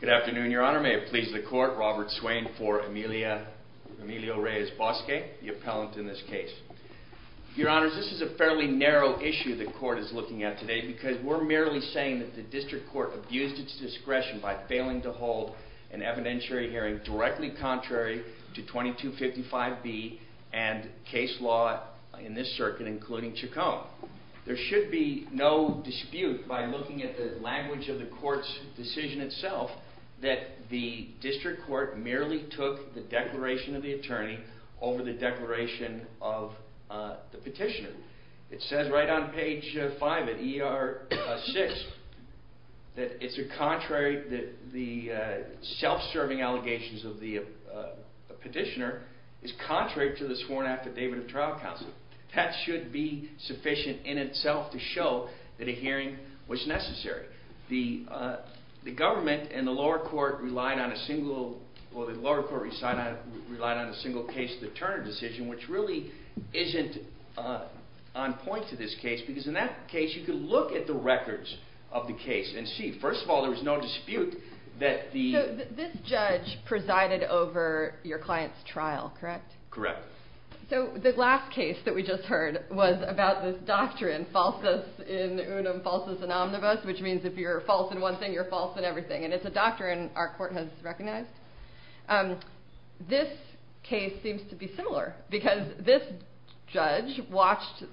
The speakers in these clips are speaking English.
Good afternoon, Your Honor. May it please the Court, Robert Swain for Emilio Reyes-Bosque, the appellant in this case. Your Honors, this is a fairly narrow issue the Court is looking at today because we're merely saying that the District Court abused its discretion by failing to hold an evidentiary hearing directly contrary to 2255B and case law in this circuit, including Chacon. There should be no dispute by looking at the language of the Court's decision itself that the District Court merely took the declaration of the attorney over the declaration of the petitioner. It says right on page 5 of ER 6 that it's contrary that the self-serving allegations of the petitioner is contrary to the sworn affidavit of trial counsel. That should be sufficient in itself to show that a hearing was necessary. The government and the lower court relied on a single case of the Turner decision, which really isn't on point to this case because in that case you can look at the records of the case and see. First of all, there was no dispute that the... So this judge presided over your client's trial, correct? Correct. So the last case that we just heard was about this doctrine, falsus in unum, falsus in omnibus, which means if you're false in one thing, you're false in everything. And it's a doctrine our court has recognized. This case seems to be similar because this judge watched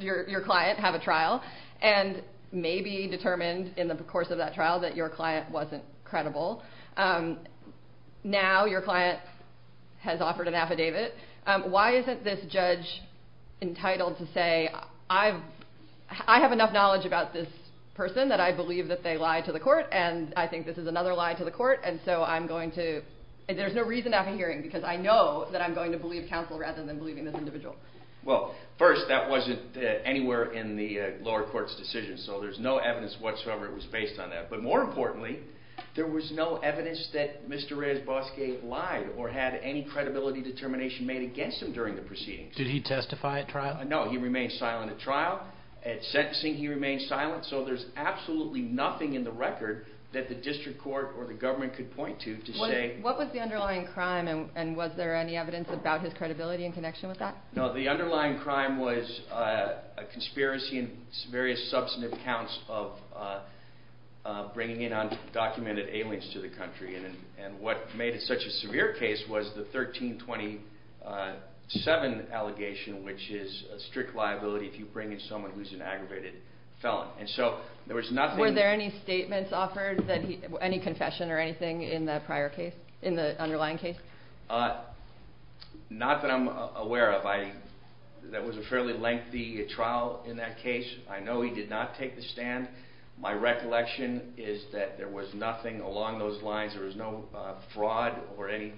your client have a trial and maybe determined in the course of that trial that your client wasn't credible. Now your client has offered an affidavit. Why isn't this judge entitled to say, I have enough knowledge about this person that I believe that they lied to the court and I think this is another lie to the court and so I'm going to... There's no reason after hearing because I know that I'm going to believe counsel rather than believing this individual. Well, first, that wasn't anywhere in the lower court's decision, so there's no evidence whatsoever that it was based on that. But more importantly, there was no evidence that Mr. Rezboski lied or had any credibility determination made against him during the proceedings. Did he testify at trial? No, he remained silent at trial. At sentencing, he remained silent. So there's absolutely nothing in the record that the district court or the government could point to to say... What was the underlying crime and was there any evidence about his credibility in connection with that? No, the underlying crime was a conspiracy in various substantive counts of bringing in undocumented aliens to the country. And what made it such a severe case was the 1327 allegation, which is a strict liability if you bring in someone who's an aggravated felon. And so there was nothing... Were there any statements offered, any confession or anything in the prior case, in the underlying case? Not that I'm aware of. That was a fairly lengthy trial in that case. I know he did not take the stand. My recollection is that there was nothing along those lines. There was no fraud or any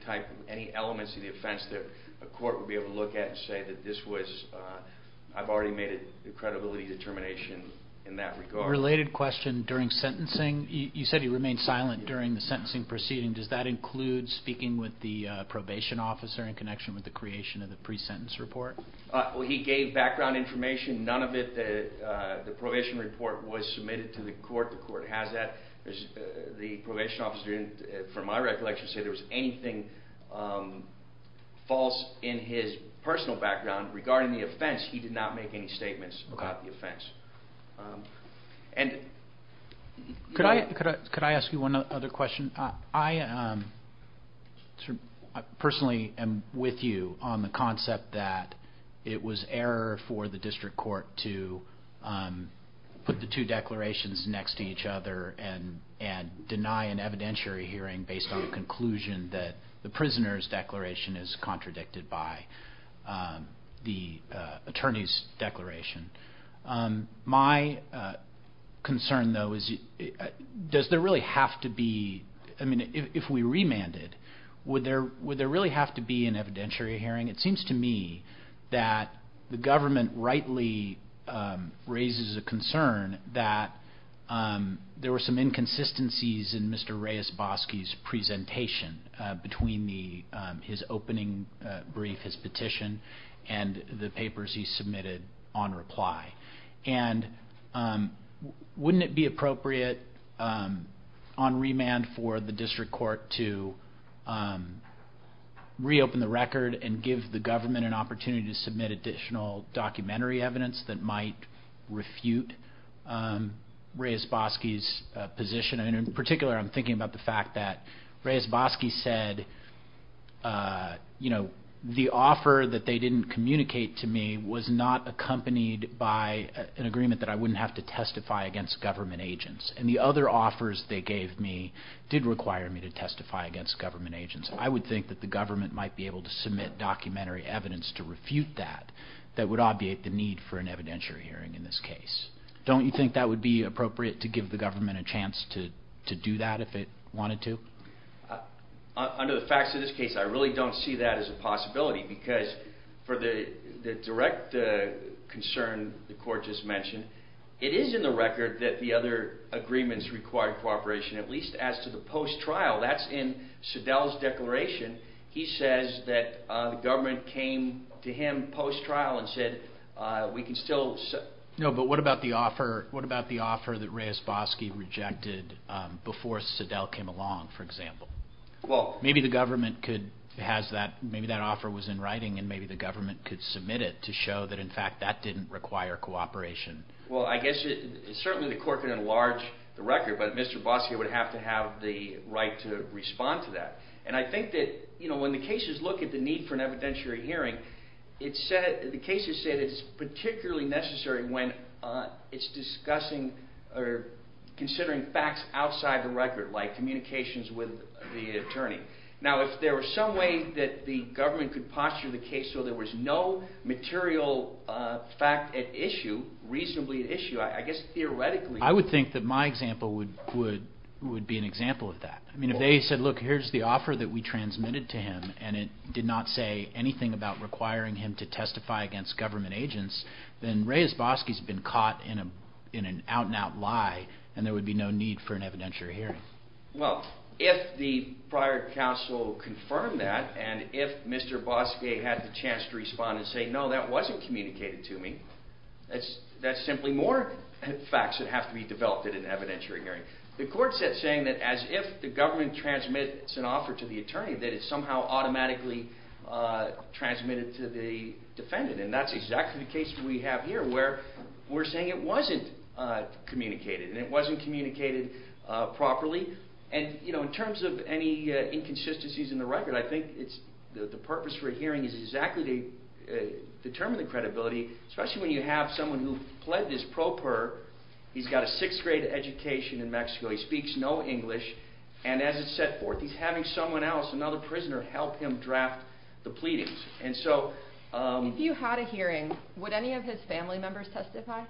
elements of the offense that a court would be able to look at and say that this was... I've already made a credibility determination in that regard. A related question. During sentencing, you said he remained silent during the sentencing proceeding. Does that include speaking with the probation officer in connection with the creation of the pre-sentence report? He gave background information. None of it, the probation report, was submitted to the court. The court has that. The probation officer, from my recollection, didn't say there was anything false in his personal background regarding the offense. He did not make any statements about the offense. Could I ask you one other question? I personally am with you on the concept that it was error for the district court to put the two declarations next to each other and deny an evidentiary hearing based on a conclusion that the prisoner's declaration is contradicted by the attorney's declaration. My concern, though, is does there really have to be... I mean, if we remanded, would there really have to be an evidentiary hearing? It seems to me that the government rightly raises a concern that there were some inconsistencies in Mr. Reyes-Bosky's presentation between his opening brief, his petition, and the papers he submitted on reply. And wouldn't it be appropriate on remand for the district court to reopen the record and give the government an opportunity to submit additional documentary evidence that might refute Reyes-Bosky's position? And in particular, I'm thinking about the fact that Reyes-Bosky said, you know, the offer that they didn't communicate to me was not accompanied by an agreement that I wouldn't have to testify against government agents. And the other offers they gave me did require me to testify against government agents. I would think that the government might be able to submit documentary evidence to refute that that would obviate the need for an evidentiary hearing in this case. Don't you think that would be appropriate to give the government a chance to do that if it wanted to? Under the facts of this case, I really don't see that as a possibility, because for the direct concern the court just mentioned, it is in the record that the other agreements required cooperation, at least as to the post-trial. That's in Sedell's declaration. He says that the government came to him post-trial and said, we can still... No, but what about the offer that Reyes-Bosky rejected before Sedell came along, for example? Well... Maybe the government could have that, maybe that offer was in writing, and maybe the government could submit it to show that, in fact, that didn't require cooperation. Well, I guess certainly the court could enlarge the record, but Mr. Bosky would have to have the right to respond to that. And I think that, you know, when the cases look at the need for an evidentiary hearing, the cases say that it's particularly necessary when it's discussing or considering facts outside the record, like communications with the attorney. Now, if there was some way that the government could posture the case so there was no material fact at issue, reasonably at issue, I guess theoretically... I would think that my example would be an example of that. I mean, if they said, look, here's the offer that we transmitted to him, and it did not say anything about requiring him to testify against government agents, then Reyes-Bosky's been caught in an out-and-out lie, and there would be no need for an evidentiary hearing. Well, if the prior counsel confirmed that, and if Mr. Bosky had the chance to respond and say, no, that wasn't communicated to me, that's simply more facts that have to be developed at an evidentiary hearing. The court's saying that as if the government transmits an offer to the attorney, that it's somehow automatically transmitted to the defendant, and that's exactly the case we have here where we're saying it wasn't communicated, and it wasn't communicated properly. And, you know, in terms of any inconsistencies in the record, I think the purpose for a hearing is exactly to determine the credibility, especially when you have someone who pledged his pro per, he's got a sixth-grade education in Mexico, he speaks no English, and as it's set forth, he's having someone else, another prisoner, help him draft the pleadings. If you had a hearing, would any of his family members testify?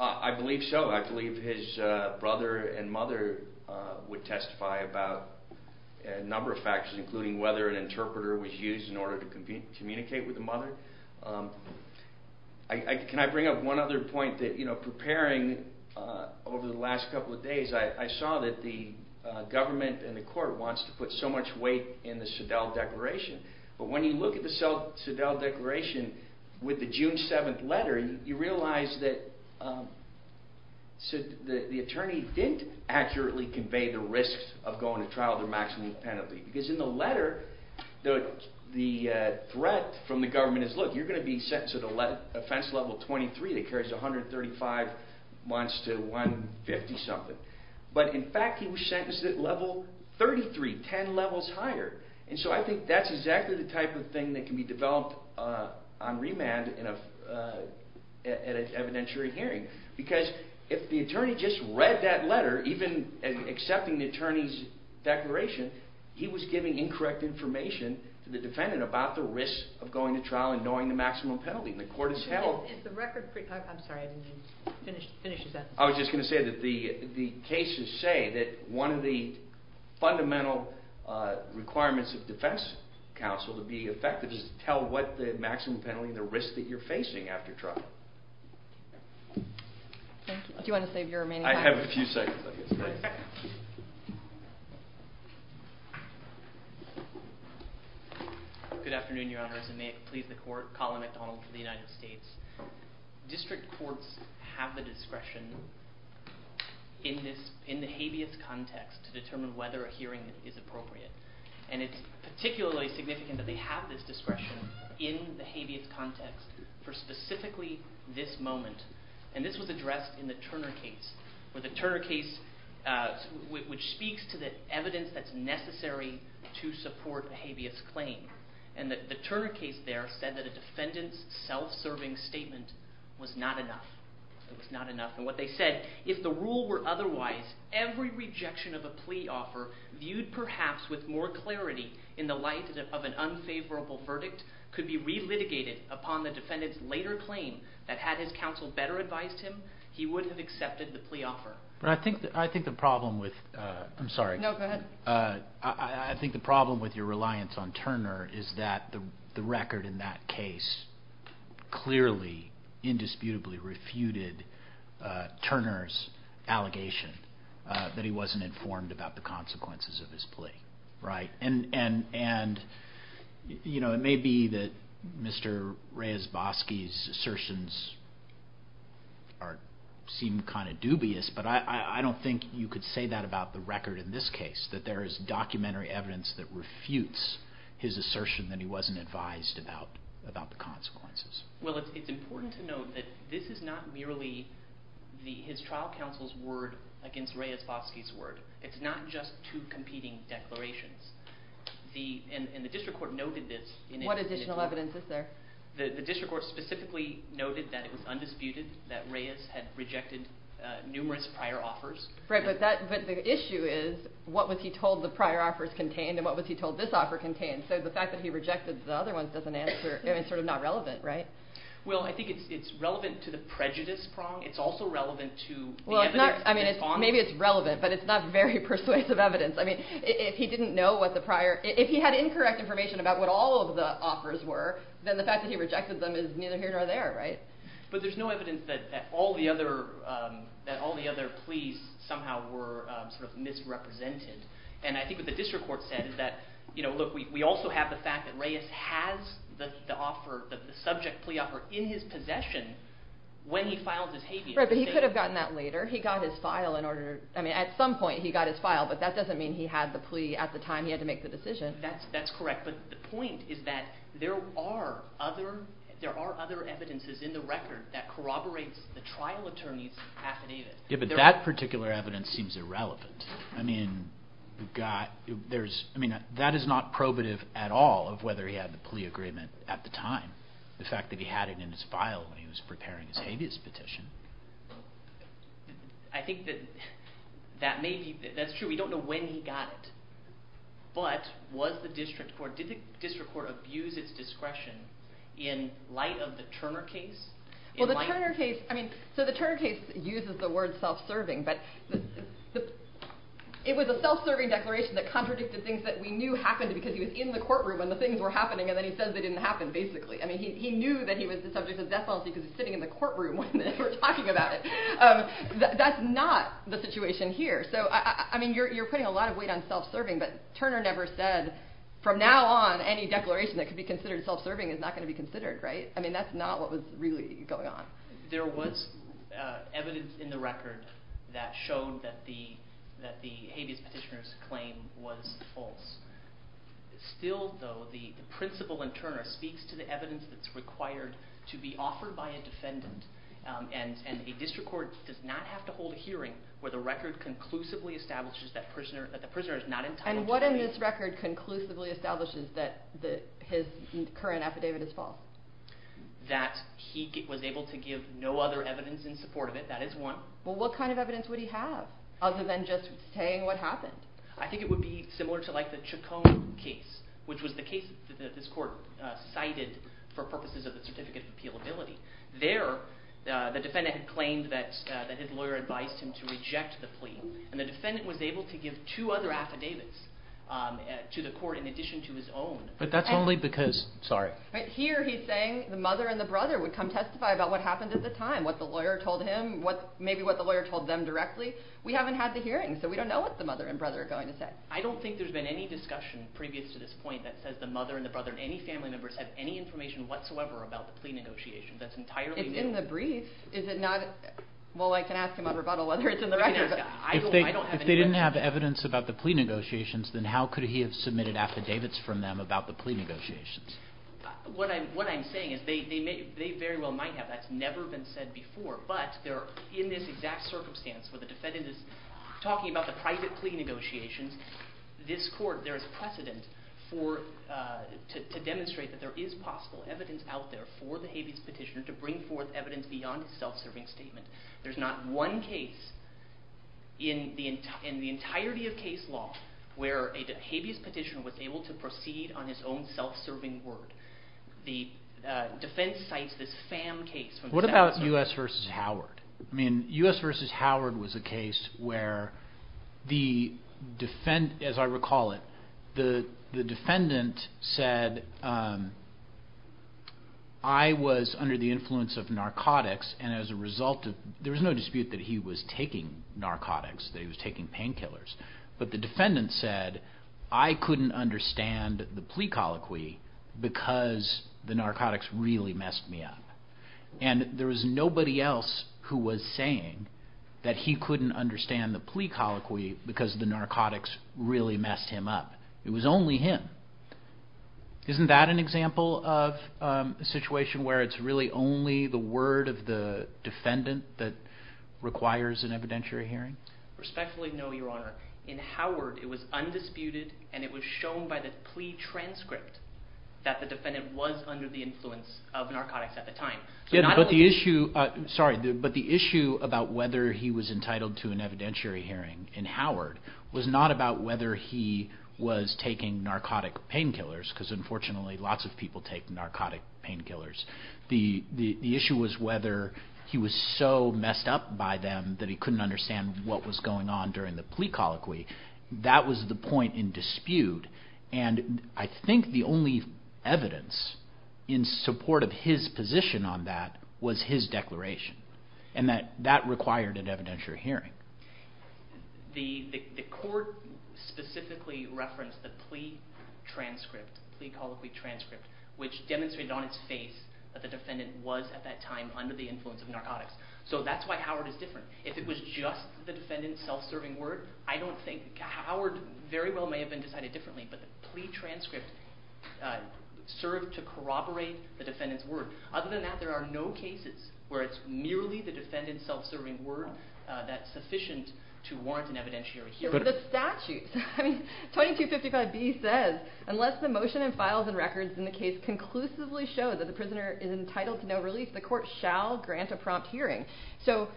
I believe so. I believe his brother and mother would testify about a number of factors, including whether an interpreter was used in order to communicate with the mother. Can I bring up one other point that, you know, preparing over the last couple of days, I saw that the government and the court wants to put so much weight in the Seidel Declaration, but when you look at the Seidel Declaration with the June 7th letter, you realize that the attorney didn't accurately convey the risks of going to trial because in the letter, the threat from the government is, look, you're going to be sentenced to offense level 23 that carries 135 months to 150-something. But in fact, he was sentenced at level 33, 10 levels higher. And so I think that's exactly the type of thing that can be developed on remand at an evidentiary hearing. Because if the attorney just read that letter, even accepting the attorney's declaration, he was giving incorrect information to the defendant about the risk of going to trial and knowing the maximum penalty, and the court has held... I'm sorry, I didn't finish your sentence. I was just going to say that the cases say that one of the fundamental requirements of defense counsel to be effective is to tell what the maximum penalty and the risk that you're facing after trial. Thank you. Do you want to save your remaining time? I have a few seconds, I guess. Good afternoon, Your Honors, and may it please the Court, Colin McDonald for the United States. District courts have the discretion in the habeas context to determine whether a hearing is appropriate. And it's particularly significant that they have this discretion in the habeas context for specifically this moment. And this was addressed in the Turner case, which speaks to the evidence that's necessary to support a habeas claim. And the Turner case there said that a defendant's self-serving statement was not enough. It was not enough. And what they said, if the rule were otherwise, every rejection of a plea offer viewed perhaps with more clarity in the light of an unfavorable verdict could be re-litigated upon the defendant's later claim that had his counsel better advised him, he would have accepted the plea offer. I think the problem with your reliance on Turner is that the record in that case clearly, indisputably refuted Turner's allegation that he wasn't informed about the consequences of his plea. Right. And it may be that Mr. Reyes-Bosky's assertions seem kind of dubious, but I don't think you could say that about the record in this case, that there is documentary evidence that refutes his assertion that he wasn't advised about the consequences. Well, it's important to note that this is not merely his trial counsel's word against Reyes-Bosky's word. It's not just two competing declarations. And the district court noted this. What additional evidence is there? The district court specifically noted that it was undisputed that Reyes had rejected numerous prior offers. Right, but the issue is, what was he told the prior offers contained and what was he told this offer contained? So the fact that he rejected the other ones doesn't answer, I mean, it's sort of not relevant, right? Well, I think it's relevant to the prejudice prong. It's also relevant to the evidence. I mean, maybe it's relevant, but it's not very persuasive evidence. I mean, if he didn't know what the prior – if he had incorrect information about what all of the offers were, then the fact that he rejected them is neither here nor there, right? But there's no evidence that all the other pleas somehow were sort of misrepresented. And I think what the district court said is that, you know, look, we also have the fact that Reyes has the offer, the subject plea offer in his possession when he files his habeas. Right, but he could have gotten that later. He got his file in order – I mean, at some point he got his file, but that doesn't mean he had the plea at the time he had to make the decision. That's correct. But the point is that there are other evidences in the record that corroborates the trial attorney's affidavit. Yeah, but that particular evidence seems irrelevant. I mean, that is not probative at all of whether he had the plea agreement at the time. The fact that he had it in his file when he was preparing his habeas petition. I think that that may be – that's true. We don't know when he got it, but was the district court – did the district court abuse its discretion in light of the Turner case? Well, the Turner case – I mean, so the Turner case uses the word self-serving, but it was a self-serving declaration that contradicted things that we knew happened because he was in the courtroom when the things were happening, and then he says they didn't happen, basically. I mean, he knew that he was the subject of death penalty because he was sitting in the courtroom when they were talking about it. That's not the situation here. So, I mean, you're putting a lot of weight on self-serving, but Turner never said, from now on, any declaration that could be considered self-serving is not going to be considered, right? I mean, that's not what was really going on. There was evidence in the record that showed that the habeas petitioner's claim was false. Still, though, the principal in Turner speaks to the evidence that's required to be offered by a defendant, and a district court does not have to hold a hearing where the record conclusively establishes that the prisoner is not entitled to – And what in this record conclusively establishes that his current affidavit is false? That he was able to give no other evidence in support of it. That is one. Well, what kind of evidence would he have, other than just saying what happened? I think it would be similar to, like, the Chaconne case, which was the case that this court cited for purposes of the certificate of appealability. There, the defendant had claimed that his lawyer advised him to reject the plea, and the defendant was able to give two other affidavits to the court in addition to his own. But that's only because – sorry. But here he's saying the mother and the brother would come testify about what happened at the time, what the lawyer told him, maybe what the lawyer told them directly. We haven't had the hearing, so we don't know what the mother and brother are going to say. I don't think there's been any discussion previous to this point that says the mother and the brother and any family members have any information whatsoever about the plea negotiations. That's entirely new. It's in the brief. Is it not – well, I can ask him on rebuttal whether it's in the record. If they didn't have evidence about the plea negotiations, then how could he have submitted affidavits from them about the plea negotiations? What I'm saying is they very well might have. That's never been said before. But they're in this exact circumstance where the defendant is talking about the private plea negotiations. This court, there is precedent to demonstrate that there is possible evidence out there for the habeas petitioner to bring forth evidence beyond his self-serving statement. There's not one case in the entirety of case law where a habeas petitioner was able to proceed on his own self-serving word. The defense cites this Pham case. What about U.S. v. Howard? I mean, U.S. v. Howard was a case where the – as I recall it, the defendant said I was under the influence of narcotics and as a result of – there was no dispute that he was taking narcotics, that he was taking painkillers. But the defendant said I couldn't understand the plea colloquy because the narcotics really messed me up. And there was nobody else who was saying that he couldn't understand the plea colloquy because the narcotics really messed him up. It was only him. Isn't that an example of a situation where it's really only the word of the defendant that requires an evidentiary hearing? Respectfully, no, Your Honor. In Howard, it was undisputed and it was shown by the plea transcript that the defendant was under the influence of narcotics at the time. But the issue about whether he was entitled to an evidentiary hearing in Howard was not about whether he was taking narcotic painkillers because unfortunately lots of people take narcotic painkillers. The issue was whether he was so messed up by them that he couldn't understand what was going on during the plea colloquy. That was the point in dispute. And I think the only evidence in support of his position on that was his declaration, and that that required an evidentiary hearing. The court specifically referenced the plea transcript, the plea colloquy transcript, which demonstrated on its face that the defendant was at that time under the influence of narcotics. So that's why Howard is different. If it was just the defendant's self-serving word, I don't think Howard very well may have been decided differently, but the plea transcript served to corroborate the defendant's word. Other than that, there are no cases where it's merely the defendant's self-serving word that's sufficient to warrant an evidentiary hearing. But the statute, 2255B says, unless the motion and files and records in the case conclusively show that the prisoner is entitled to no release, the court shall grant a prompt hearing. So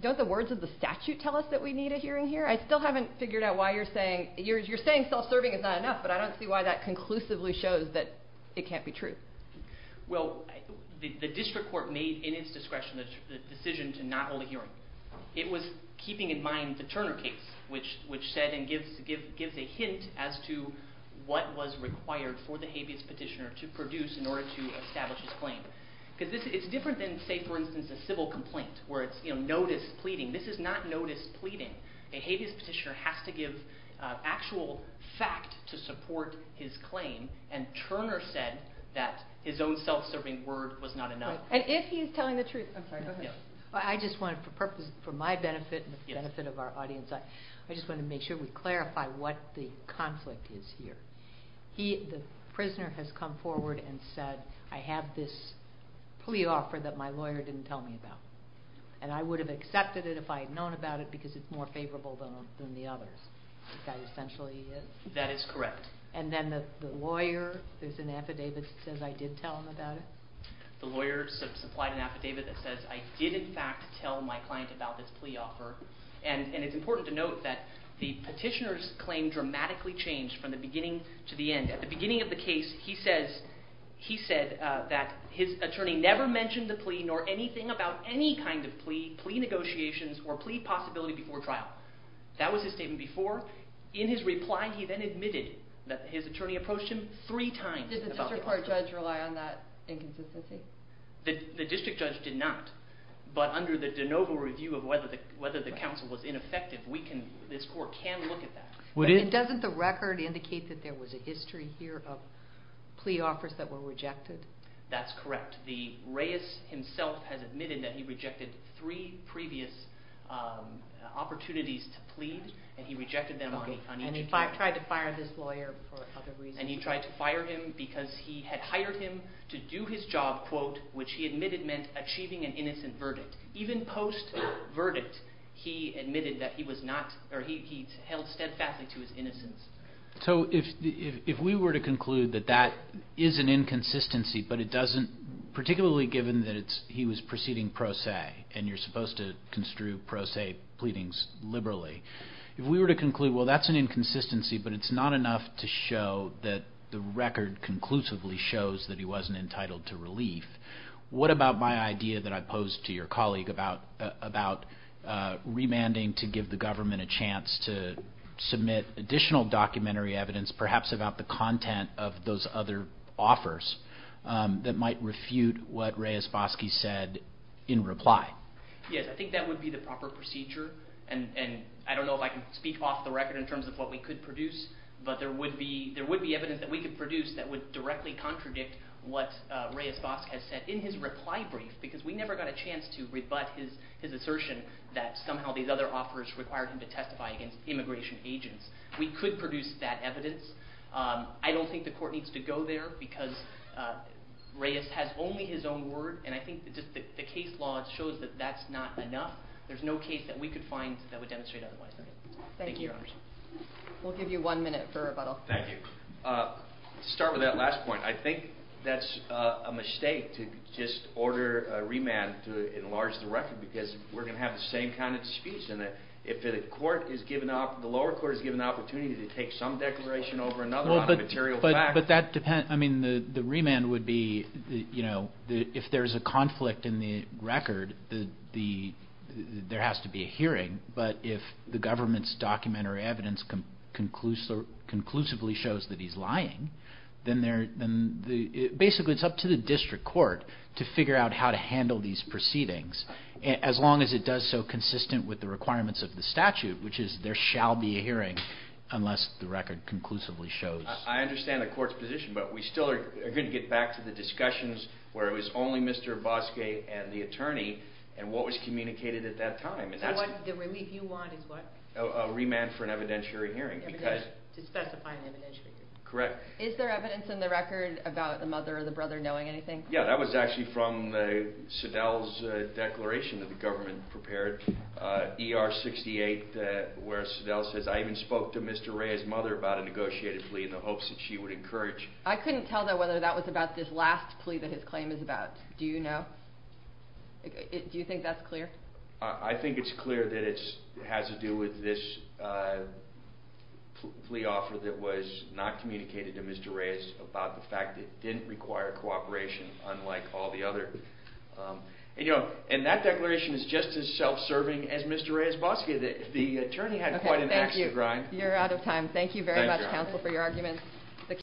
don't the words of the statute tell us that we need a hearing here? I still haven't figured out why you're saying... You're saying self-serving is not enough, but I don't see why that conclusively shows that it can't be true. Well, the district court made, in its discretion, the decision to not hold a hearing. It was keeping in mind the Turner case, which said and gives a hint as to what was required for the habeas petitioner to produce in order to establish his claim. It's different than, say, for instance, a civil complaint where it's notice pleading. This is not notice pleading. A habeas petitioner has to give actual fact to support his claim, and Turner said that his own self-serving word was not enough. And if he's telling the truth... I'm sorry, go ahead. I just want, for my benefit and the benefit of our audience, I just want to make sure we clarify what the conflict is here. The prisoner has come forward and said, I have this plea offer that my lawyer didn't tell me about, and I would have accepted it if I had known about it because it's more favorable than the others. That essentially is? That is correct. And then the lawyer, there's an affidavit that says I did tell him about it? The lawyer supplied an affidavit that says I did in fact tell my client about this plea offer, and it's important to note that the petitioner's claim dramatically changed from the beginning to the end. At the beginning of the case, he said that his attorney never mentioned the plea nor anything about any kind of plea, plea negotiations, or plea possibility before trial. That was his statement before. In his reply, he then admitted that his attorney approached him three times about the offer. Did the district court judge rely on that inconsistency? The district judge did not, but under the de novo review of whether the counsel was ineffective, this court can look at that. Doesn't the record indicate that there was a history here of plea offers that were rejected? That's correct. Reyes himself has admitted that he rejected three previous opportunities to plead, and he rejected them on each case. And he tried to fire this lawyer for other reasons. And he tried to fire him because he had hired him to do his job, which he admitted meant achieving an innocent verdict. Even post-verdict, he admitted that he was not, or he held steadfastly to his innocence. So if we were to conclude that that is an inconsistency, but it doesn't, particularly given that he was proceeding pro se, and you're supposed to construe pro se pleadings liberally, if we were to conclude, well, that's an inconsistency, but it's not enough to show that the record conclusively shows that he wasn't entitled to relief, what about my idea that I posed to your colleague about remanding to give the government a chance to submit additional documentary evidence, perhaps about the content of those other offers, that might refute what Reyes-Bosky said in reply? Yes, I think that would be the proper procedure. And I don't know if I can speak off the record in terms of what we could produce, but there would be evidence that we could produce that would directly contradict what Reyes-Bosky has said in his reply brief, because we never got a chance to rebut his assertion that somehow these other offers required him to testify against immigration agents. We could produce that evidence. I don't think the court needs to go there, because Reyes has only his own word, and I think the case law shows that that's not enough. There's no case that we could find that would demonstrate otherwise. Thank you. We'll give you one minute for rebuttal. Thank you. To start with that last point, I think that's a mistake to just order a remand to enlarge the record, because we're going to have the same kind of speech, and if the lower court is given the opportunity to take some declaration over another on a material fact... But that depends. I mean, the remand would be, if there's a conflict in the record, there has to be a hearing. But if the government's documentary evidence conclusively shows that he's lying, then basically it's up to the district court to figure out how to handle these proceedings, as long as it does so consistent with the requirements of the statute, which is there shall be a hearing unless the record conclusively shows... I understand the court's position, but we still are going to get back to the discussions where it was only Mr. Bosque and the attorney, and what was communicated at that time. The relief you want is what? A remand for an evidentiary hearing. To specify an evidentiary hearing. Correct. Is there evidence in the record about the mother or the brother knowing anything? Yeah, that was actually from Sadal's declaration that the government prepared, ER 68, where Sadal says, I even spoke to Mr. Rea's mother about a negotiated plea in the hopes that she would encourage... I couldn't tell, though, whether that was about this last plea that his claim is about. Do you know? Do you think that's clear? I think it's clear that it has to do with this plea offer that was not communicated to Mr. Rea's about the fact that it didn't require cooperation, unlike all the other... And that declaration is just as self-serving as Mr. Rea's Bosque. The attorney had quite an axe to grind. Okay, thank you. You're out of time. Thank you very much, counsel, for your arguments.